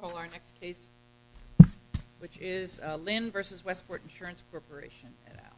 and I'll call our next case, which is Lynn v. Westport Insurance Corporation, et al.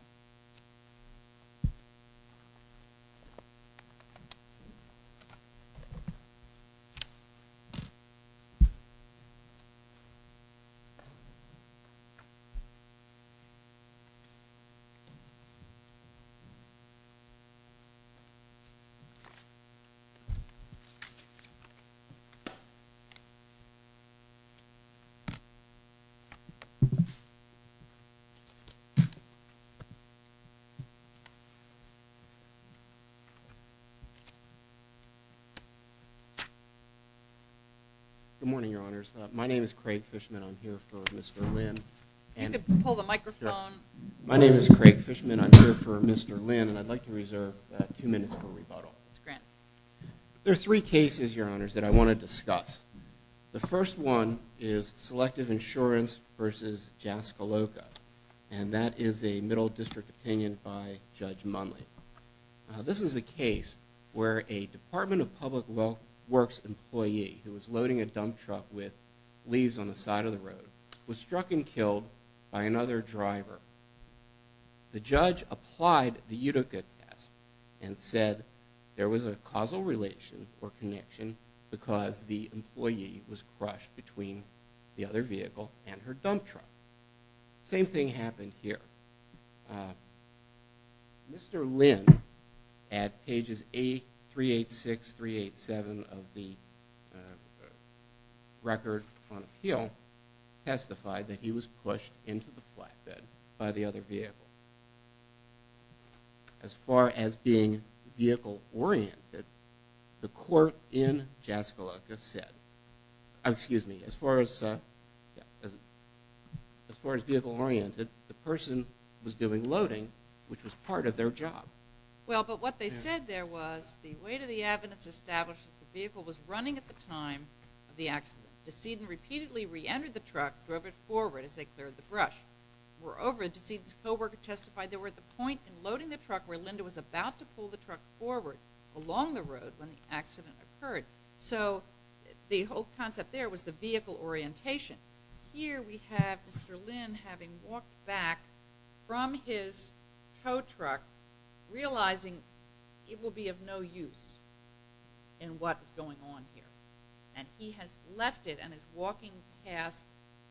Good morning, Your Honors. My name is Craig Fishman. I'm here for Mr. Lynn. My name is Craig Fishman. I'm here for Mr. Lynn, and I'd like to reserve two minutes for rebuttal. There are three cases, Your Honors, that I want to discuss. The first one is Selective Insurance v. Jaskoloka, and that is a Middle District opinion by Judge Munley. This is a case where a Department of Public Works employee who was loading a dump truck with leaves on the side of the road was struck and killed by another driver. The judge applied the Utica test and said there was a causal relation or connection because the employee was crushed between the other vehicle and her dump truck. The same thing happened here. Mr. Lynn, at pages 386, 387 of the Record on Appeal, testified that he was pushed into the flatbed by the other vehicle. As far as being vehicle-oriented, the court in Jaskoloka said, excuse me, as far as vehicle-oriented, the person was doing loading, which was part of their job. Well, but what they said there was the weight of the evidence established that the vehicle was running at the time of the accident. DeSedin repeatedly re-entered the truck, drove it forward as they cleared the brush. Moreover, DeSedin's co-worker testified they were at the point in loading the truck where Linda was about to pull the truck forward along the road when the accident occurred. So the whole concept there was the vehicle orientation. Here we have Mr. Lynn having walked back from his tow truck, realizing it will be of no use in what is going on here. And he has left it and is walking past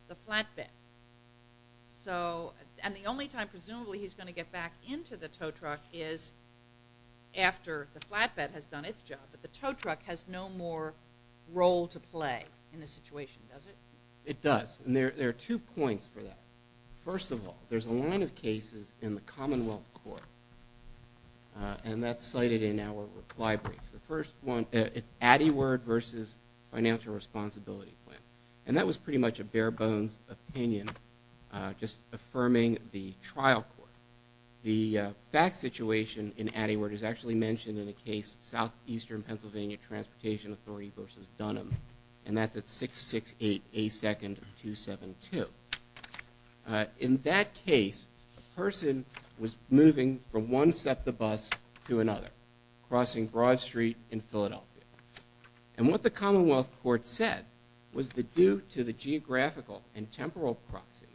the flatbed. So, and the only time presumably he's going to get back into the tow truck is after the flatbed has done its job. But the tow truck has no more role to play in this situation, does it? It does. And there are two points for that. First of all, there's a line of cases in the Commonwealth Court, and that's cited in our reply brief. The first one, it's Addyward v. Financial Responsibility Plan. And that was pretty much a bare bones opinion, just affirming the trial court. The fact situation in Addyward is actually mentioned in a case Southeastern Pennsylvania Transportation Authority v. Dunham, and that's at 668 A2-272. In that case, a person was moving from one SEPTA bus to another, crossing Broad Street in Philadelphia. And what the Commonwealth Court said was that due to the geographical and temporal proximity,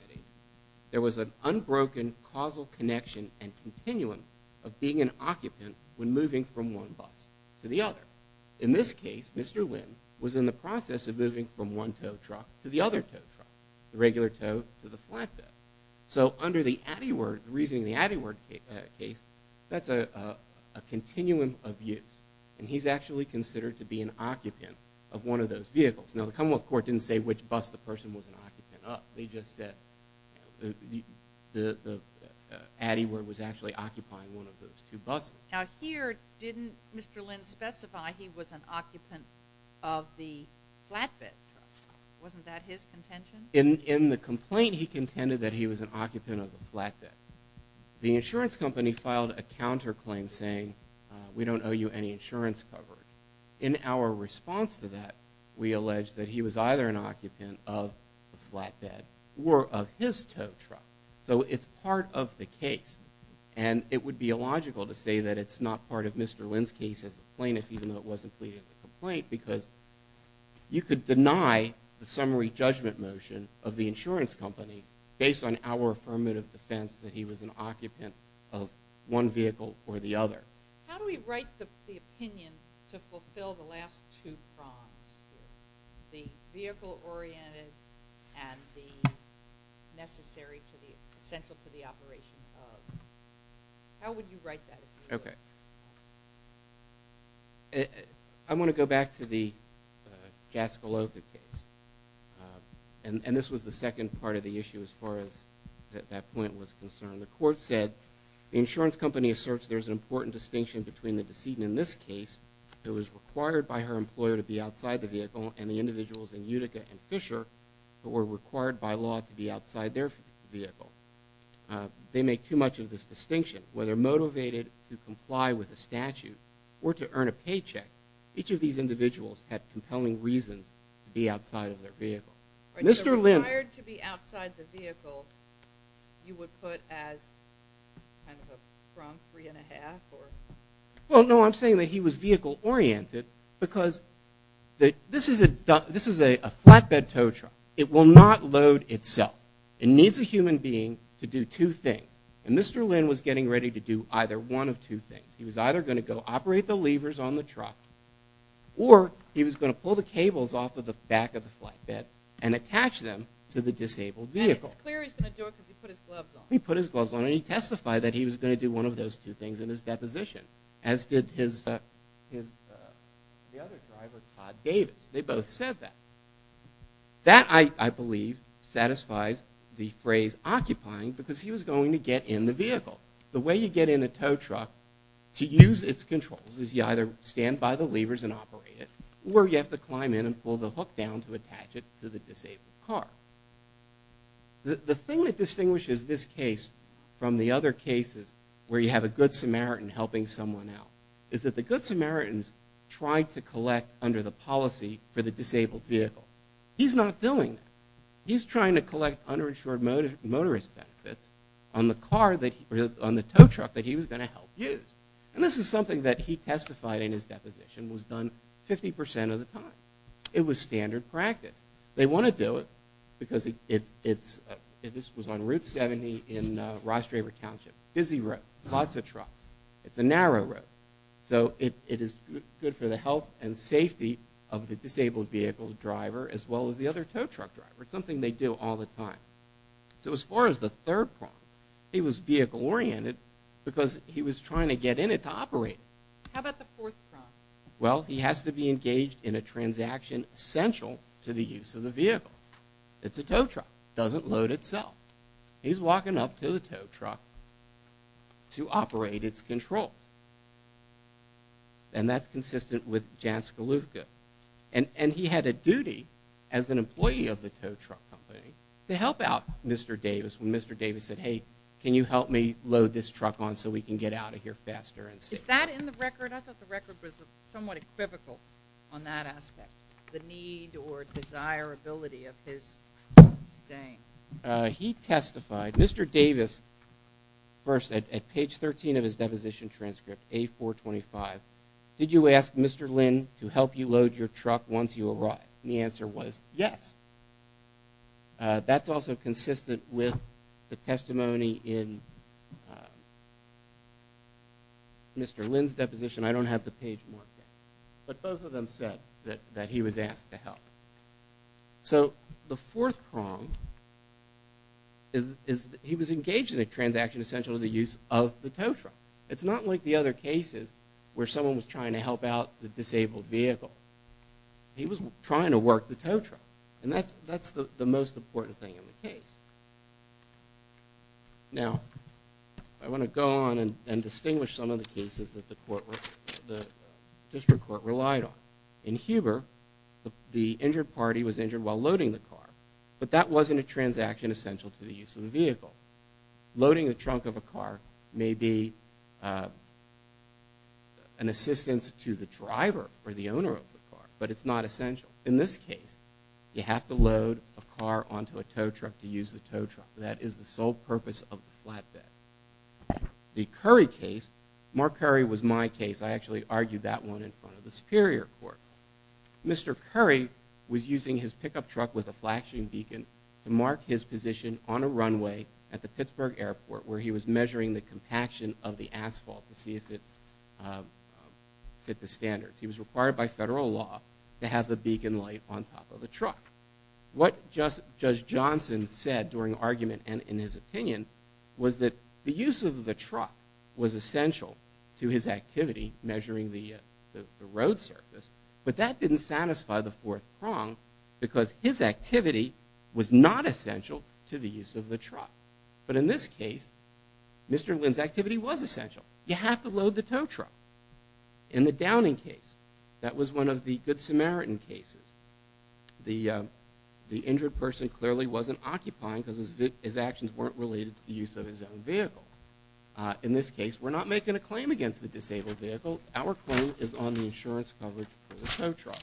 there was an unbroken causal connection and continuum of being an occupant when moving from one bus to the other. In this case, Mr. Lynn was in the process of moving from one tow truck to the other tow truck, the regular tow to the flatbed. So under the Addyward, the reasoning of the Addyward case, that's a continuum of use. And he's actually considered to be an occupant of one of those vehicles. Now, the Commonwealth Court didn't say which bus the person was an occupant of. They just said the Addyward was actually occupying one of those two buses. Now here, didn't Mr. Lynn specify he was an occupant of the flatbed? Wasn't that his contention? In the complaint, he contended that he was an occupant of the flatbed. The insurance company filed a counterclaim saying, we don't owe you any insurance coverage. In our response to that, we alleged that he was either an occupant of the flatbed or of his tow truck. So it's part of the case. And it would be illogical to say that it's not part of Mr. Lynn's case as a plaintiff, even though it wasn't pleaded in the complaint, because you could deny the summary judgment motion of the insurance company based on our affirmative defense that he was an occupant of one vehicle or the other. How do we write the opinion to fulfill the last two prongs, the vehicle-oriented and the necessary to the, essential to the operation of? How would you write that? Okay. I want to go back to the Gascoloka case. And this was the second part of the issue as far as that point was concerned. The court said, the insurance company asserts there's an important distinction between the decedent in this case who was required by her employer to be outside the vehicle and the individuals in Utica and Fisher who were required by law to be outside their vehicle. They make too much of this distinction. Whether they were motivated to comply with a statute or to earn a paycheck, each of these individuals had compelling reasons to be outside of their vehicle. Mr. Lynn Required to be outside the vehicle, you would put as kind of a prong three and a half or? Well, no, I'm saying that he was vehicle-oriented because this is a flatbed tow truck. It will not load itself. It needs a human being to do two things. And Mr. Lynn was getting ready to do either one of two things. He was either going to go operate the levers on the truck or he was going to pull the cables off of the back of the flatbed and attach them to the disabled vehicle. And it's clear he's going to do it because he put his gloves on. He put his gloves on and he testified that he was going to do one of those two things in his deposition, as did the other driver, Todd Davis. They both said that. That, I believe, satisfies the phrase occupying because he was going to get in the vehicle. The way you get in a tow truck to use its controls is you either stand by the levers and operate it or you have to climb in and pull the hook down to attach it to the disabled car. The thing that distinguishes this case from the other cases where you have a good Samaritan helping someone out is that the good Samaritans try to collect under the policy for the disabled vehicle. He's not doing that. He's trying to collect underinsured motorist benefits on the car that, on the tow truck that he was going to help use. And this is something that he testified in his deposition was done 50% of the time. It was standard practice. They want to do it because it's, this was on Route 70 in Ross Draper Township, busy road, lots of trucks. It's a narrow road. So, it is good for the health and safety of the disabled vehicle driver as well as the other tow truck driver. It's something they do all the time. So, as far as the third problem, he was vehicle oriented because he was trying to get in it to operate it. How about the fourth problem? Well, he has to be engaged in a transaction essential to the use of the vehicle. It's a tow truck. It doesn't load itself. He's walking up to the tow truck to operate its controls. And that's consistent with Jan Skalewska. And he had a duty as an employee of the tow truck company to help out Mr. Davis when Mr. Davis said, hey, can you help me load this truck on so we can get out of here faster and safer. Is that in the record? I thought the record was somewhat equivocal on that aspect. The need or desirability of his staying. He testified, Mr. Davis, first at page 13 of his deposition transcript, A425, did you ask Mr. Lynn to help you load your truck once you arrived? And the answer was yes. That's also consistent with the testimony in Mr. Lynn's deposition. I don't have the page marked there. So the fourth prong is he was engaged in a transaction essential to the use of the tow truck. It's not like the other cases where someone was trying to help out the disabled vehicle. He was trying to work the tow truck. And that's the most important thing in the case. Now, I want to go on and distinguish some of the cases that the district court relied on. In Huber, the injured party was injured while loading the car. But that wasn't a transaction essential to the use of the vehicle. Loading the trunk of a car may be an assistance to the driver or the owner of the car. But it's not essential. In this case, you have to load a car onto a tow truck to use the tow truck. That is the sole purpose of the flatbed. The Curry case, Mark Curry was my case. I actually argued that one in front of the superior court. Mr. Curry was using his pickup truck with a flashing beacon to mark his position on a runway at the Pittsburgh airport where he was measuring the compaction of the asphalt to see if it fit the standards. He was required by federal law to have the beacon light on top of the truck. What Judge Johnson said during argument and in his opinion was that the use of the truck was essential to his activity measuring the road surface. But that didn't satisfy the fourth prong because his activity was not essential to the use of the truck. But in this case, Mr. Lynn's activity was essential. You have to load the tow truck. In the Downing case, that was one of the good Samaritan cases. The injured person clearly wasn't occupying because his actions weren't related to the use of his own vehicle. In this case, we're not making a claim against the disabled vehicle. Our claim is on the insurance coverage for the tow truck.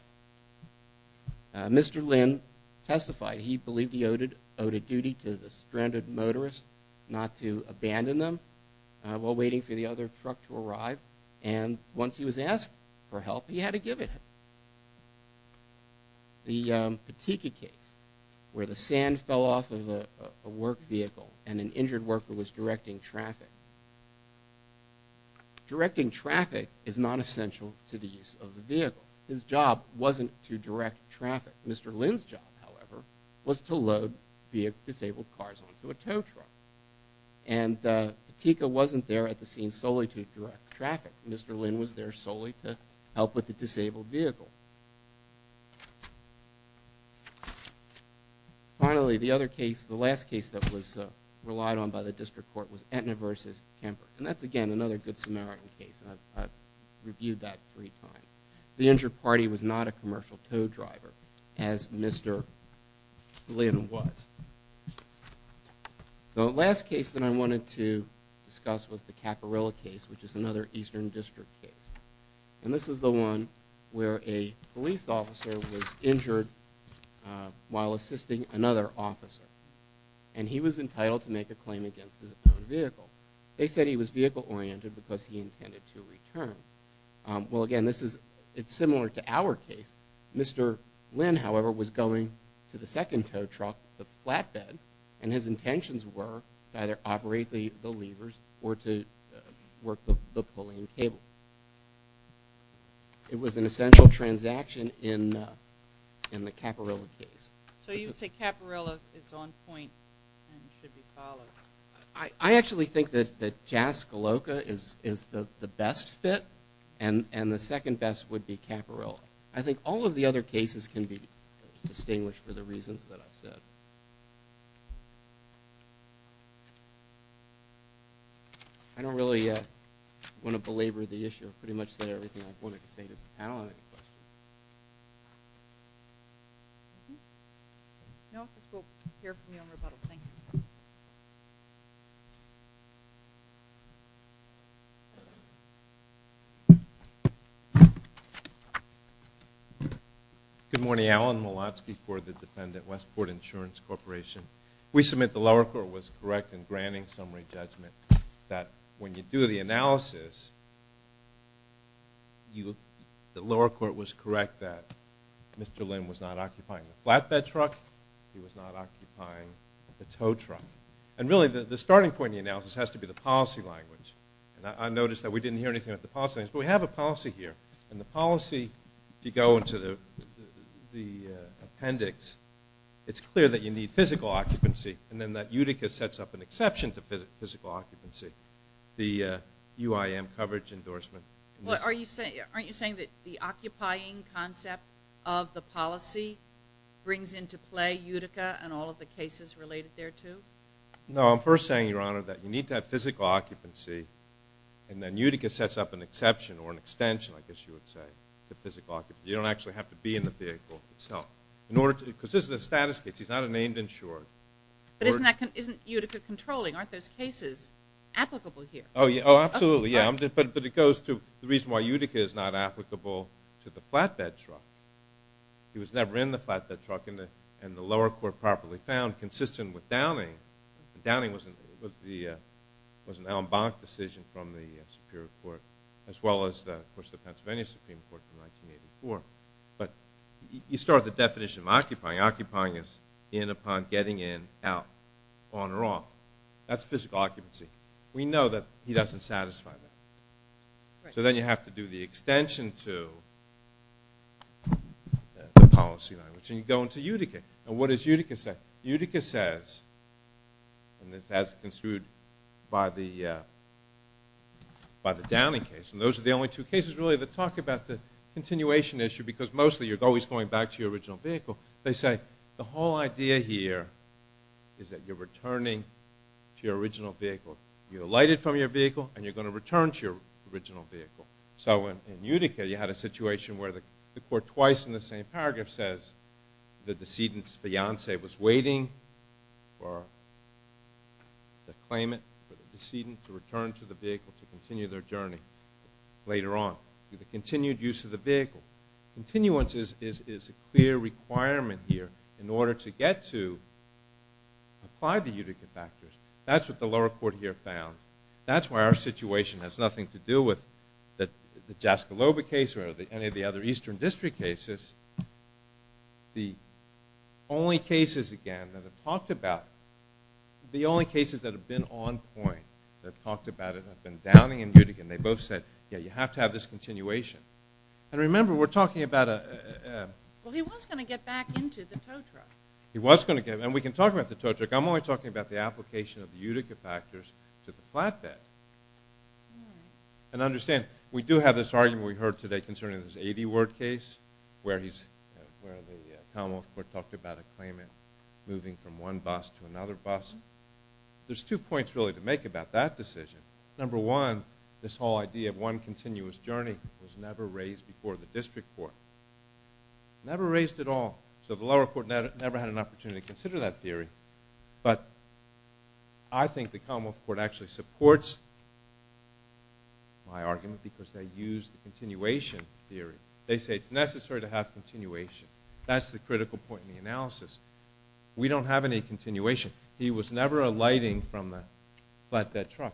Mr. Lynn testified. He believed he owed a duty to the stranded motorist not to abandon them while waiting for the other truck to arrive. And once he was asked for help, he had to give it him. The Patiki case where the sand fell off of a work vehicle and an injured worker was directing traffic. Directing traffic is not essential to the use of the vehicle. His job wasn't to direct traffic. Mr. Lynn's job, however, was to load disabled cars onto a tow truck. And Patiki wasn't there at the scene solely to direct traffic. Mr. Lynn was there solely to help with the disabled vehicle. Finally, the other case, the last case that was relied on by the district court was Aetna versus Kemper. And that's, again, another good Samaritan case. I've reviewed that three times. The injured party was not a commercial tow driver as Mr. Lynn was. The last case that I wanted to discuss was the Caporella case, which is another eastern district case. And this is the one where a police officer was injured while assisting another officer. And he was entitled to make a claim against his own vehicle. They said he was vehicle-oriented because he intended to return. Well, again, this is similar to our case. Mr. Lynn, however, was going to the second tow truck, the flatbed, and his intentions were to either operate the levers or to work the pulling cable. It was an essential transaction in the Caporella case. So you would say Caporella is on point and should be followed. I actually think that Jaskoloka is the best fit, and the second best would be Caporella. I think all of the other cases can be distinguished for the reasons that I've said. I don't really want to belabor the issue. I've pretty much said everything I wanted to say. Does the panel have any questions? No, this will appear for me on rebuttal. Thank you. Good morning. Alan Molotsky for the defendant, Westport Insurance Corporation. We submit the lower court was correct in granting summary judgment that when you do the analysis, the lower court was correct that Mr. Lynn was not occupying the flatbed truck. He was not occupying the tow truck. And really, the starting point of the analysis has to be the policy language. I noticed that we didn't hear anything about the policy language, but we have a policy here, and the policy, if you go into the appendix, it's clear that you need physical occupancy, and then that Utica sets up an exception to physical occupancy, the UIM coverage endorsement. Aren't you saying that the occupying concept of the policy brings into play Utica and all of the cases related thereto? No, I'm first saying, Your Honor, that you need to have physical occupancy, and then Utica sets up an exception or an extension, I guess you would say, to physical occupancy. You don't actually have to be in the vehicle itself. Because this is a status case. He's not a named insured. But isn't Utica controlling? Aren't those cases applicable here? Oh, absolutely, yeah. But it goes to the reason why Utica is not applicable to the flatbed truck. He was never in the flatbed truck, and the lower court properly found, consistent with Downing. Downing was an Alan Bonk decision from the Superior Court, as well as, of course, the Pennsylvania Supreme Court from 1984. But you start with the definition of occupying. Occupying is in upon getting in, out, on or off. That's physical occupancy. We know that he doesn't satisfy that. So then you have to do the extension to the policy language. And you go into Utica. And what does Utica say? Utica says, and it's as construed by the Downing case, and those are the only two cases, really, that talk about the continuation issue. Because mostly you're always going back to your original vehicle. They say the whole idea here is that you're returning to your original vehicle. You're elighted from your vehicle, and you're going to return to your original vehicle. So in Utica, you had a situation where the court, twice in the same paragraph, says the decedent's fiance was waiting for the claimant, for the decedent to return to the vehicle to continue their journey later on. The continued use of the vehicle. Continuance is a clear requirement here in order to get to apply the Utica factors. That's what the lower court here found. That's why our situation has nothing to do with the Jaskolobah case or any of the other Eastern District cases. The only cases, again, that have talked about it, the only cases that have been on point that have talked about it have been Downing and Utica, and they both said, yeah, you have to have this continuation. And remember, we're talking about a – Well, he was going to get back into the tow truck. He was going to get – and we can talk about the tow truck. I'm only talking about the application of the Utica factors to the flatbed. And understand, we do have this argument we heard today concerning this 80-word case where the Commonwealth Court talked about a claimant moving from one bus to another bus. There's two points, really, to make about that decision. Number one, this whole idea of one continuous journey was never raised before the district court. Never raised at all. So the lower court never had an opportunity to consider that theory. But I think the Commonwealth Court actually supports my argument because they used the continuation theory. They say it's necessary to have continuation. That's the critical point in the analysis. We don't have any continuation. He was never alighting from the flatbed truck.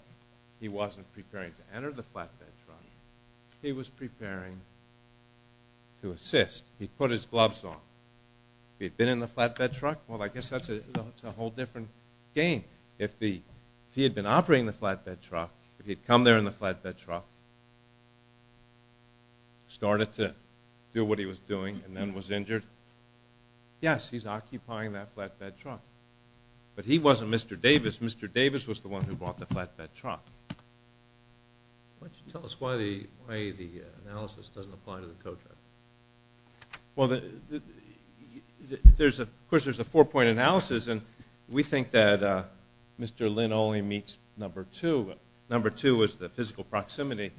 He wasn't preparing to enter the flatbed truck. He was preparing to assist. He put his gloves on. If he had been in the flatbed truck, well, I guess that's a whole different game. If he had been operating the flatbed truck, if he had come there in the flatbed truck, started to do what he was doing and then was injured, yes, he's occupying that flatbed truck. But he wasn't Mr. Davis. Mr. Davis was the one who bought the flatbed truck. Why don't you tell us why the analysis doesn't apply to the co-driver? Well, of course, there's a four-point analysis, and we think that Mr. Lynn only meets number two. Number two is the physical proximity,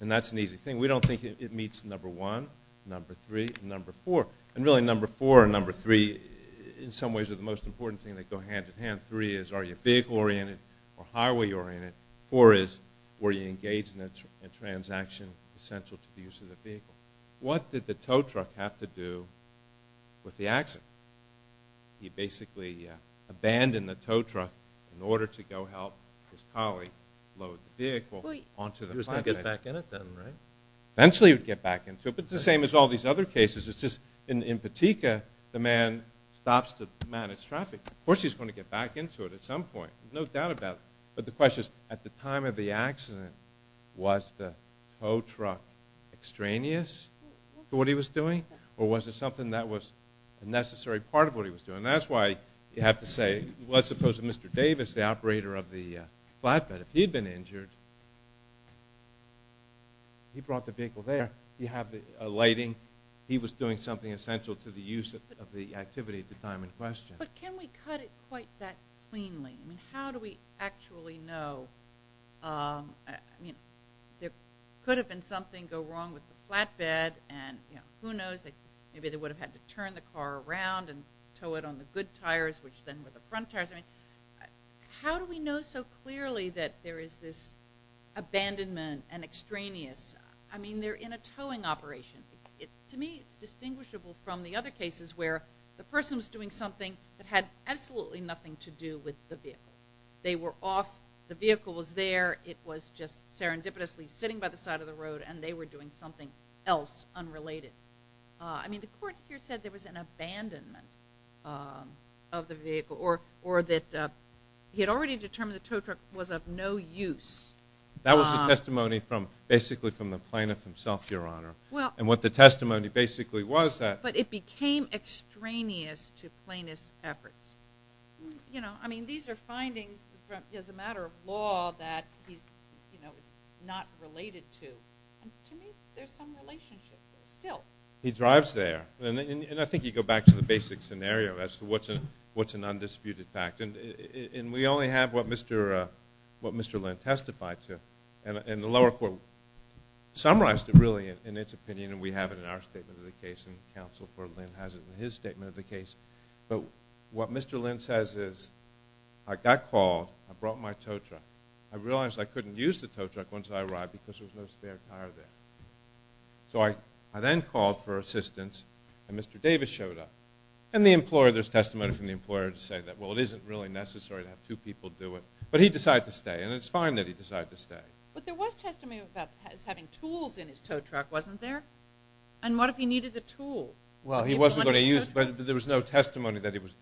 and that's an easy thing. We don't think it meets number one, number three, and number four. And really, number four and number three, in some ways, are the most important thing that go hand-in-hand. Three is, are you vehicle-oriented or highway-oriented? Four is, were you engaged in a transaction essential to the use of the vehicle? What did the tow truck have to do with the accident? He basically abandoned the tow truck in order to go help his colleague load the vehicle onto the flatbed. He was going to get back in it then, right? Eventually, he would get back into it, but it's the same as all these other cases. It's just in Patika, the man stops to manage traffic. Of course, he's going to get back into it at some point, no doubt about it. But the question is, at the time of the accident, was the tow truck extraneous to what he was doing, or was it something that was a necessary part of what he was doing? That's why you have to say, let's suppose Mr. Davis, the operator of the flatbed, if he'd been injured, he brought the vehicle there, he had the lighting, he was doing something essential to the use of the activity at the time in question. But can we cut it quite that cleanly? How do we actually know? There could have been something go wrong with the flatbed, and who knows, maybe they would have had to turn the car around and tow it on the good tires, which then were the front tires. How do we know so clearly that there is this abandonment and extraneous? I mean, they're in a towing operation. To me, it's distinguishable from the other cases where the person was doing something that had absolutely nothing to do with the vehicle. They were off, the vehicle was there, it was just serendipitously sitting by the side of the road, and they were doing something else unrelated. I mean, the court here said there was an abandonment of the vehicle, or that he had already determined the tow truck was of no use. That was the testimony basically from the plaintiff himself, Your Honor. And what the testimony basically was that it became extraneous to plaintiff's efforts. I mean, these are findings as a matter of law that it's not related to. To me, there's some relationship there still. He drives there, and I think you go back to the basic scenario as to what's an undisputed fact. And we only have what Mr. Lind testified to, and the lower court summarized it really in its opinion, and we have it in our statement of the case, and counsel for Lind has it in his statement of the case. But what Mr. Lind says is, I got called, I brought my tow truck. I realized I couldn't use the tow truck once I arrived because there was no spare tire there. So I then called for assistance, and Mr. Davis showed up. And the employer, there's testimony from the employer to say that, well, it isn't really necessary to have two people do it. But he decided to stay, and it's fine that he decided to stay. But there was testimony about having tools in his tow truck, wasn't there? And what if he needed the tool? Well, he wasn't going to use it, but there was no testimony that it was...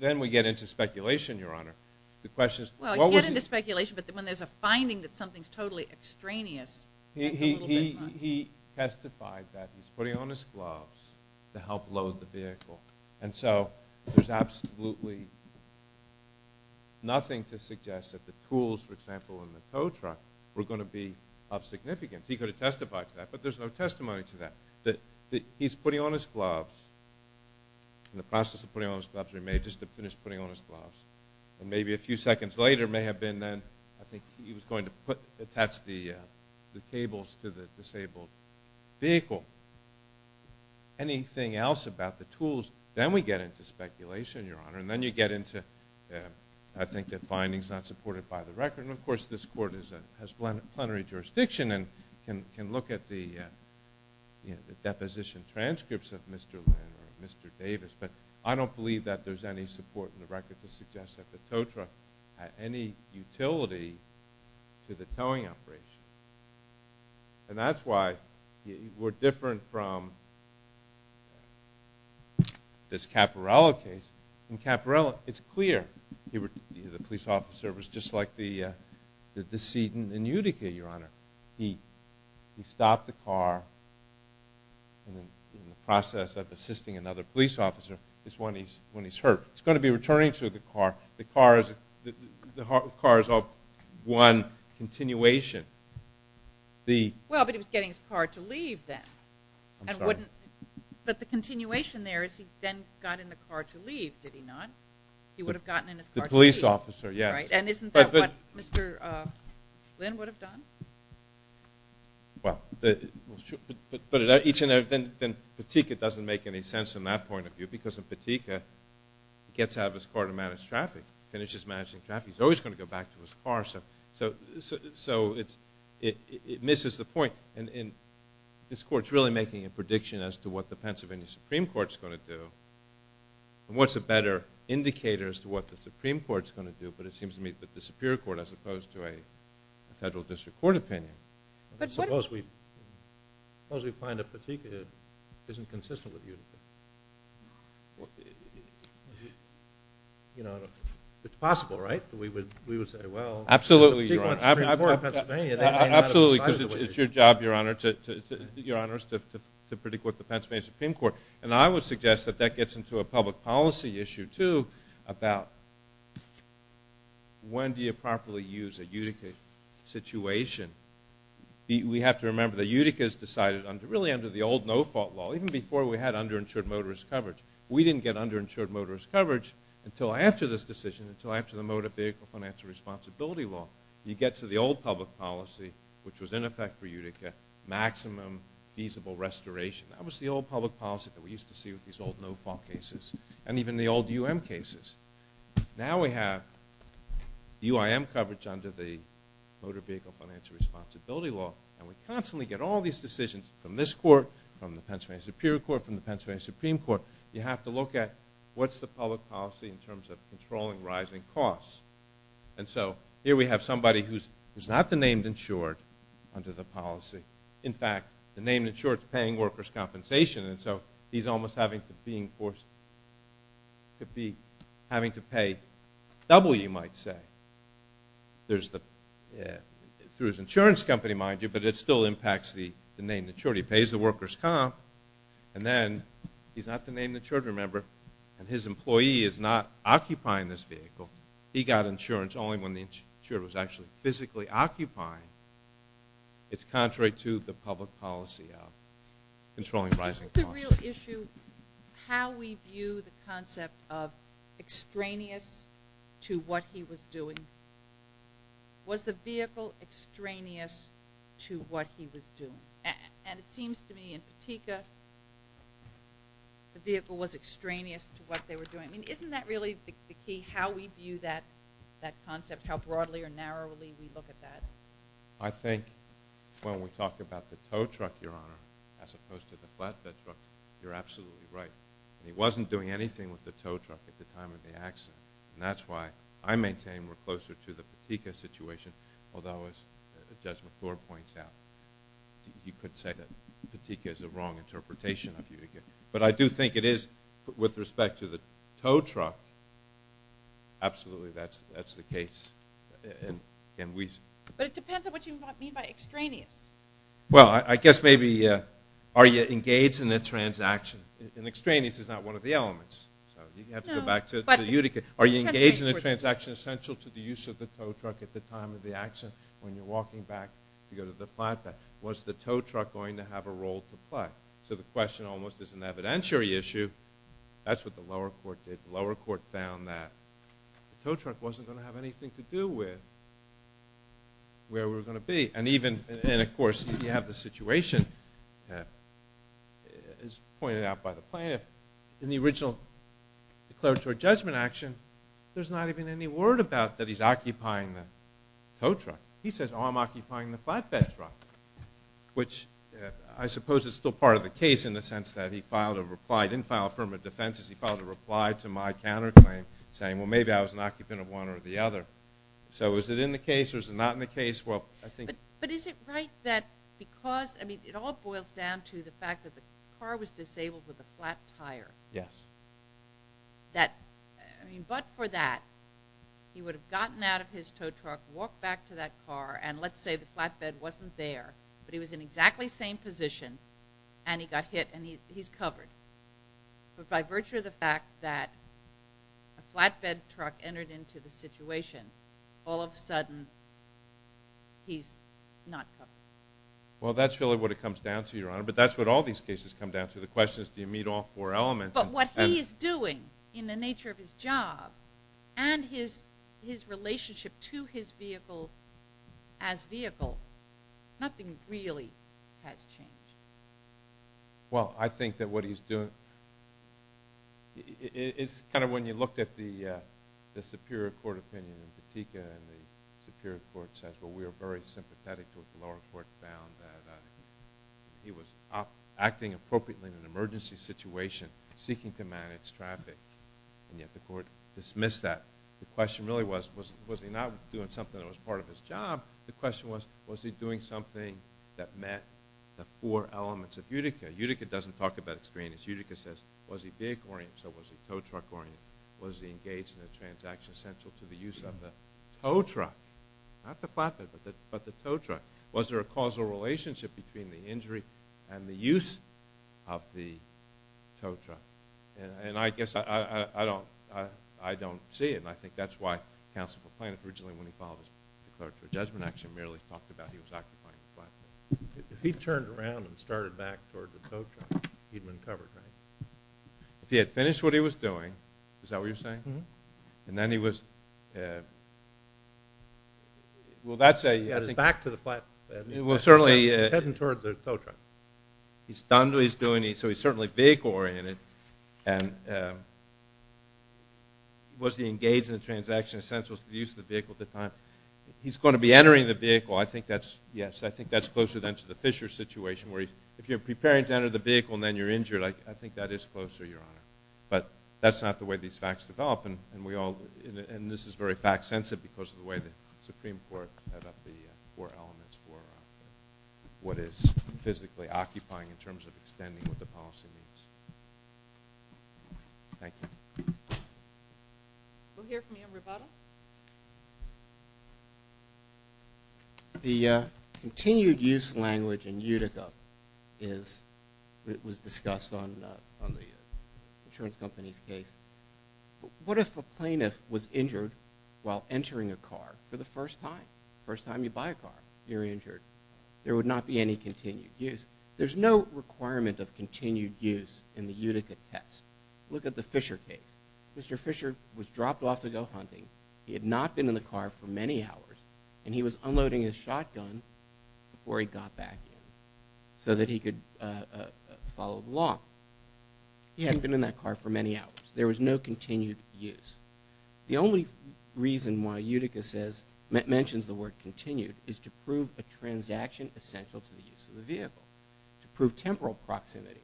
Then we get into speculation, Your Honor. Well, you get into speculation, but when there's a finding that something's totally extraneous... He testified that he's putting on his gloves to help load the vehicle. And so there's absolutely nothing to suggest that the tools, for example, in the tow truck were going to be of significance. He could have testified to that, but there's no testimony to that. That he's putting on his gloves, in the process of putting on his gloves, or he may have just finished putting on his gloves. And maybe a few seconds later, it may have been then, I think he was going to attach the cables to the disabled vehicle. Anything else about the tools? Then we get into speculation, Your Honor. And then you get into, I think, the findings not supported by the record. And, of course, this court has plenary jurisdiction and can look at the deposition transcripts of Mr. Landry and Mr. Davis, but I don't believe that there's any support in the record to suggest that the tow truck had any utility to the towing operation. And that's why we're different from this Caporello case. In Caporello, it's clear the police officer was just like the decedent in Utica, Your Honor. He stopped the car in the process of assisting another police officer when he's hurt. He's going to be returning to the car. The car is all one continuation. Well, but he was getting his car to leave then. I'm sorry. But the continuation there is he then got in the car to leave, did he not? He would have gotten in his car to leave. The police officer, yes. And isn't that what Mr. Lynn would have done? Well, but then Utica doesn't make any sense in that point of view because in Utica he gets out of his car to manage traffic, finishes managing traffic. He's always going to go back to his car. So it misses the point. And this court's really making a prediction as to what the Pennsylvania Supreme Court's going to do and what's a better indicator as to what the Supreme Court's going to do. But it seems to me that the Superior Court, as opposed to a federal district court opinion, suppose we find that Utica isn't consistent with Utica. It's possible, right? We would say, well, if Utica wants the Supreme Court in Pennsylvania, they may not have decided to wait. Absolutely, because it's your job, Your Honor, to predict what the Pennsylvania Supreme Court. And I would suggest that that gets into a public policy issue, too, about when do you properly use a Utica situation. We have to remember that Utica's decided under, really under the old no-fault law, even before we had underinsured motorist coverage. We didn't get underinsured motorist coverage until after this decision, until after the Motor Vehicle Financial Responsibility Law. You get to the old public policy, which was in effect for Utica, maximum feasible restoration. That was the old public policy that we used to see with these old no-fault cases, and even the old U.M. cases. Now we have U.I.M. coverage under the Motor Vehicle Financial Responsibility Law, and we constantly get all these decisions from this court, from the Pennsylvania Superior Court, from the Pennsylvania Supreme Court. You have to look at what's the public policy in terms of controlling rising costs. And so here we have somebody who's not the named insured under the policy. In fact, the named insured is paying workers' compensation, and so he's almost having to being forced to be, having to pay double, you might say, through his insurance company, mind you, but it still impacts the named insured. He pays the workers' comp, and then he's not the named insured, remember, and his employee is not occupying this vehicle. He got insurance only when the insured was actually physically occupying. It's contrary to the public policy of controlling rising costs. Isn't the real issue how we view the concept of extraneous to what he was doing? Was the vehicle extraneous to what he was doing? And it seems to me in Patika, the vehicle was extraneous to what they were doing. I mean, isn't that really the key, how we view that concept, how broadly or narrowly we look at that? I think when we talk about the tow truck, Your Honor, as opposed to the flatbed truck, you're absolutely right. He wasn't doing anything with the tow truck at the time of the accident, and that's why I maintain we're closer to the Patika situation, although, as Judge McClure points out, you could say that Patika is a wrong interpretation of Utica. But I do think it is, with respect to the tow truck, absolutely, that's the case. But it depends on what you mean by extraneous. Well, I guess maybe, are you engaged in a transaction? And extraneous is not one of the elements. So you have to go back to Utica. Are you engaged in a transaction essential to the use of the tow truck at the time of the accident when you're walking back to go to the flatbed? Was the tow truck going to have a role to play? So the question almost is an evidentiary issue. That's what the lower court did. The lower court found that the tow truck wasn't going to have anything to do with where we were going to be. And even, of course, you have the situation as pointed out by the plaintiff. In the original declaratory judgment action, there's not even any word about that he's occupying the tow truck. He says, oh, I'm occupying the flatbed truck, which I suppose is still part of the case in the sense that he filed a reply. He didn't file a firm of defense. He filed a reply to my counterclaim saying, well, maybe I was an occupant of one or the other. So is it in the case or is it not in the case? Well, I think... But is it right that because... I mean, it all boils down to the fact that the car was disabled with a flat tire. Yes. But for that, he would have gotten out of his tow truck, walked back to that car, and let's say the flatbed wasn't there, but he was in exactly the same position, and he got hit, and he's covered. But by virtue of the fact that a flatbed truck entered into the situation, all of a sudden, he's not covered. Well, that's really what it comes down to, Your Honor. But that's what all these cases come down to. The question is, do you meet all four elements? But what he is doing in the nature of his job and his relationship to his vehicle as vehicle, nothing really has changed. Well, I think that what he's doing... It's kind of when you look at the superior court opinion in Petitka, and the superior court says, well, we are very sympathetic to what the lower court found, that he was acting appropriately in an emergency situation, seeking to manage traffic, and yet the court dismissed that. The question really was, was he not doing something that was part of his job? The question was, was he doing something that met the four elements of Utica? Utica doesn't talk about experience. Utica says, was he vehicle-oriented? So was he tow truck-oriented? Was he engaged in a transaction central to the use of the tow truck? Not the flatbed, but the tow truck. Was there a causal relationship between the injury and the use of the tow truck? And I guess I don't see it, and I think that's why counsel proclaimed it originally when he filed his declaratory judgment, actually merely talked about he was occupying the flatbed. If he turned around and started back toward the tow truck, he'd been covered, right? If he had finished what he was doing, is that what you're saying? And then he was... Well, that's a... He's heading toward the tow truck. He's done what he's doing, so he's certainly vehicle-oriented, and was he engaged in a transaction central to the use of the vehicle at the time? He's going to be entering the vehicle. I think that's, yes, I think that's closer than to the Fisher situation, where if you're preparing to enter the vehicle and then you're injured, I think that is closer, Your Honor. But that's not the way these facts develop, and we all... And this is very fact-sensitive because of the way the Supreme Court set up the four elements for what is physically occupying in terms of extending what the policy means. Thank you. We'll hear from you, Roberto. The continued-use language in Utica was discussed on the insurance company's case. What if a plaintiff was injured while entering a car for the first time? First time you buy a car, you're injured. There would not be any continued use. There's no requirement of continued use in the Utica test. Look at the Fisher case. Mr. Fisher was dropped off to go hunting. He had not been in the car for many hours, and he was unloading his shotgun before he got back in so that he could follow the law. He hadn't been in that car for many hours. There was no continued use. The only reason why Utica says... mentions the word continued is to prove a transaction essential to the use of the vehicle, to prove temporal proximity,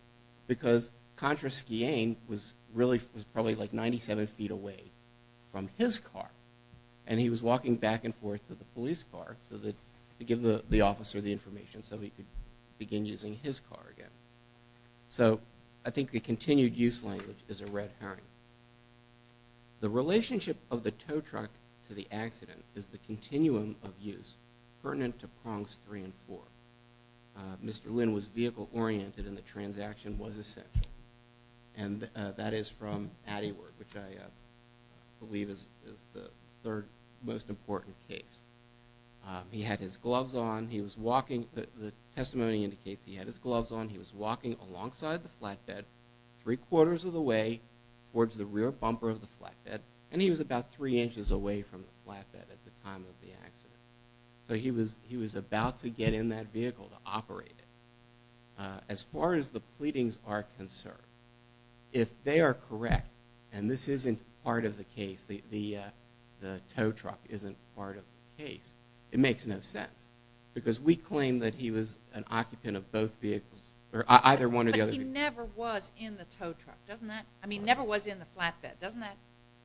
because Contra Schiene was probably like 97 feet away from his car, and he was walking back and forth to the police car to give the officer the information so he could begin using his car again. So I think the continued-use language is a red herring. The relationship of the tow truck to the accident is the continuum of use pertinent to prongs 3 and 4. Mr. Lin was vehicle-oriented and the transaction was essential. And that is from Atty. Ward, which I believe is the third most important case. He had his gloves on. He was walking. The testimony indicates he had his gloves on. He was walking alongside the flatbed 3 quarters of the way towards the rear bumper of the flatbed, and he was about 3 inches away from the flatbed at the time of the accident. So he was about to get in that vehicle to operate it. As far as the pleadings are concerned, if they are correct, and this isn't part of the case, the tow truck isn't part of the case, it makes no sense because we claim that he was an occupant of both vehicles, or either one or the other. But he never was in the tow truck, doesn't that... I mean, never was in the flatbed. Doesn't that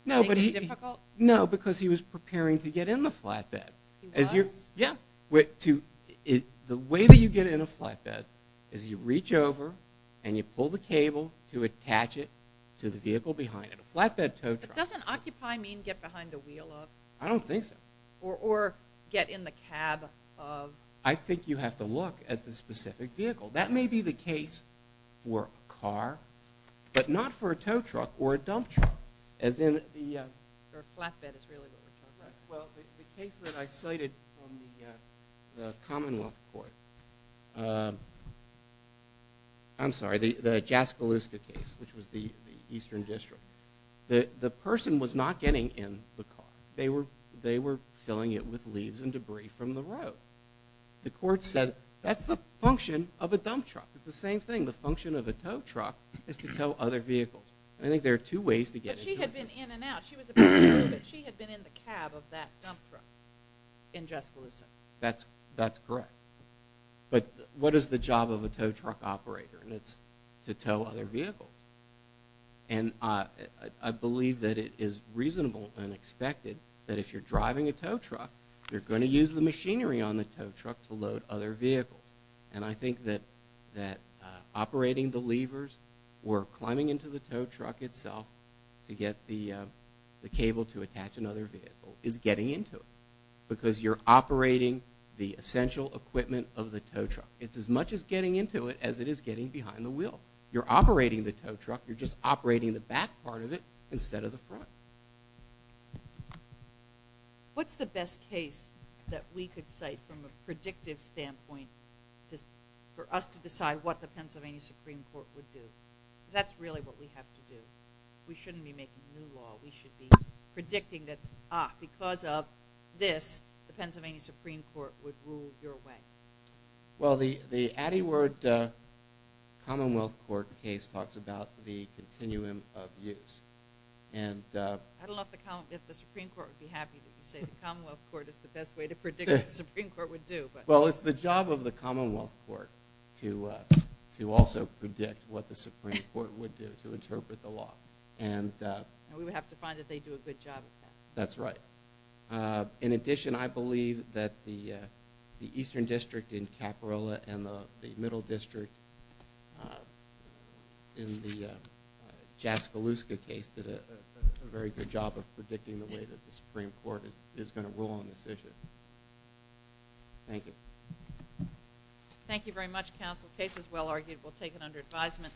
make it difficult? No, because he was preparing to get in the flatbed. He was? Yeah. The way that you get in a flatbed is you reach over and you pull the cable to attach it to the vehicle behind it. A flatbed tow truck. Doesn't occupy mean get behind the wheel of? I don't think so. Or get in the cab of? I think you have to look at the specific vehicle. That may be the case for a car, but not for a tow truck or a dump truck, as in the... Well, the case that I cited from the Commonwealth Court... I'm sorry, the Jaskaluska case, which was the Eastern District. The person was not getting in the car. They were filling it with leaves and debris from the road. The court said, that's the function of a dump truck. It's the same thing. The function of a tow truck is to tow other vehicles. I think there are two ways to get in. She had been in and out. She had been in the cab of that dump truck in Jaskaluska. That's correct. But what is the job of a tow truck operator? It's to tow other vehicles. And I believe that it is reasonable and expected that if you're driving a tow truck, you're going to use the machinery on the tow truck to load other vehicles. And I think that operating the levers or climbing into the tow truck itself to get the cable to attach another vehicle is getting into it. Because you're operating the essential equipment of the tow truck. It's as much as getting into it as it is getting behind the wheel. You're operating the tow truck. You're just operating the back part of it instead of the front. What's the best case that we could cite from a predictive standpoint for us to decide what the Pennsylvania Supreme Court would do? Because that's really what we have to do. We shouldn't be making new law. We should be predicting that, ah, because of this, the Pennsylvania Supreme Court would rule your way. Well, the Atty. Ward Commonwealth Court case talks about the continuum of use. I don't know if the Supreme Court would be happy if you say the Commonwealth Court is the best way to predict what the Supreme Court would do. Well, it's the job of the Commonwealth Court to also predict what the Supreme Court would do to interpret the law. And we would have to find that they do a good job of that. That's right. In addition, I believe that the Eastern District in Caparilla and the Middle District in the Jaskaluska case did a very good job of predicting the way that the Supreme Court is going to rule on this issue. Thank you. Thank you very much, Counsel. The case is well argued. We'll take it under advisement.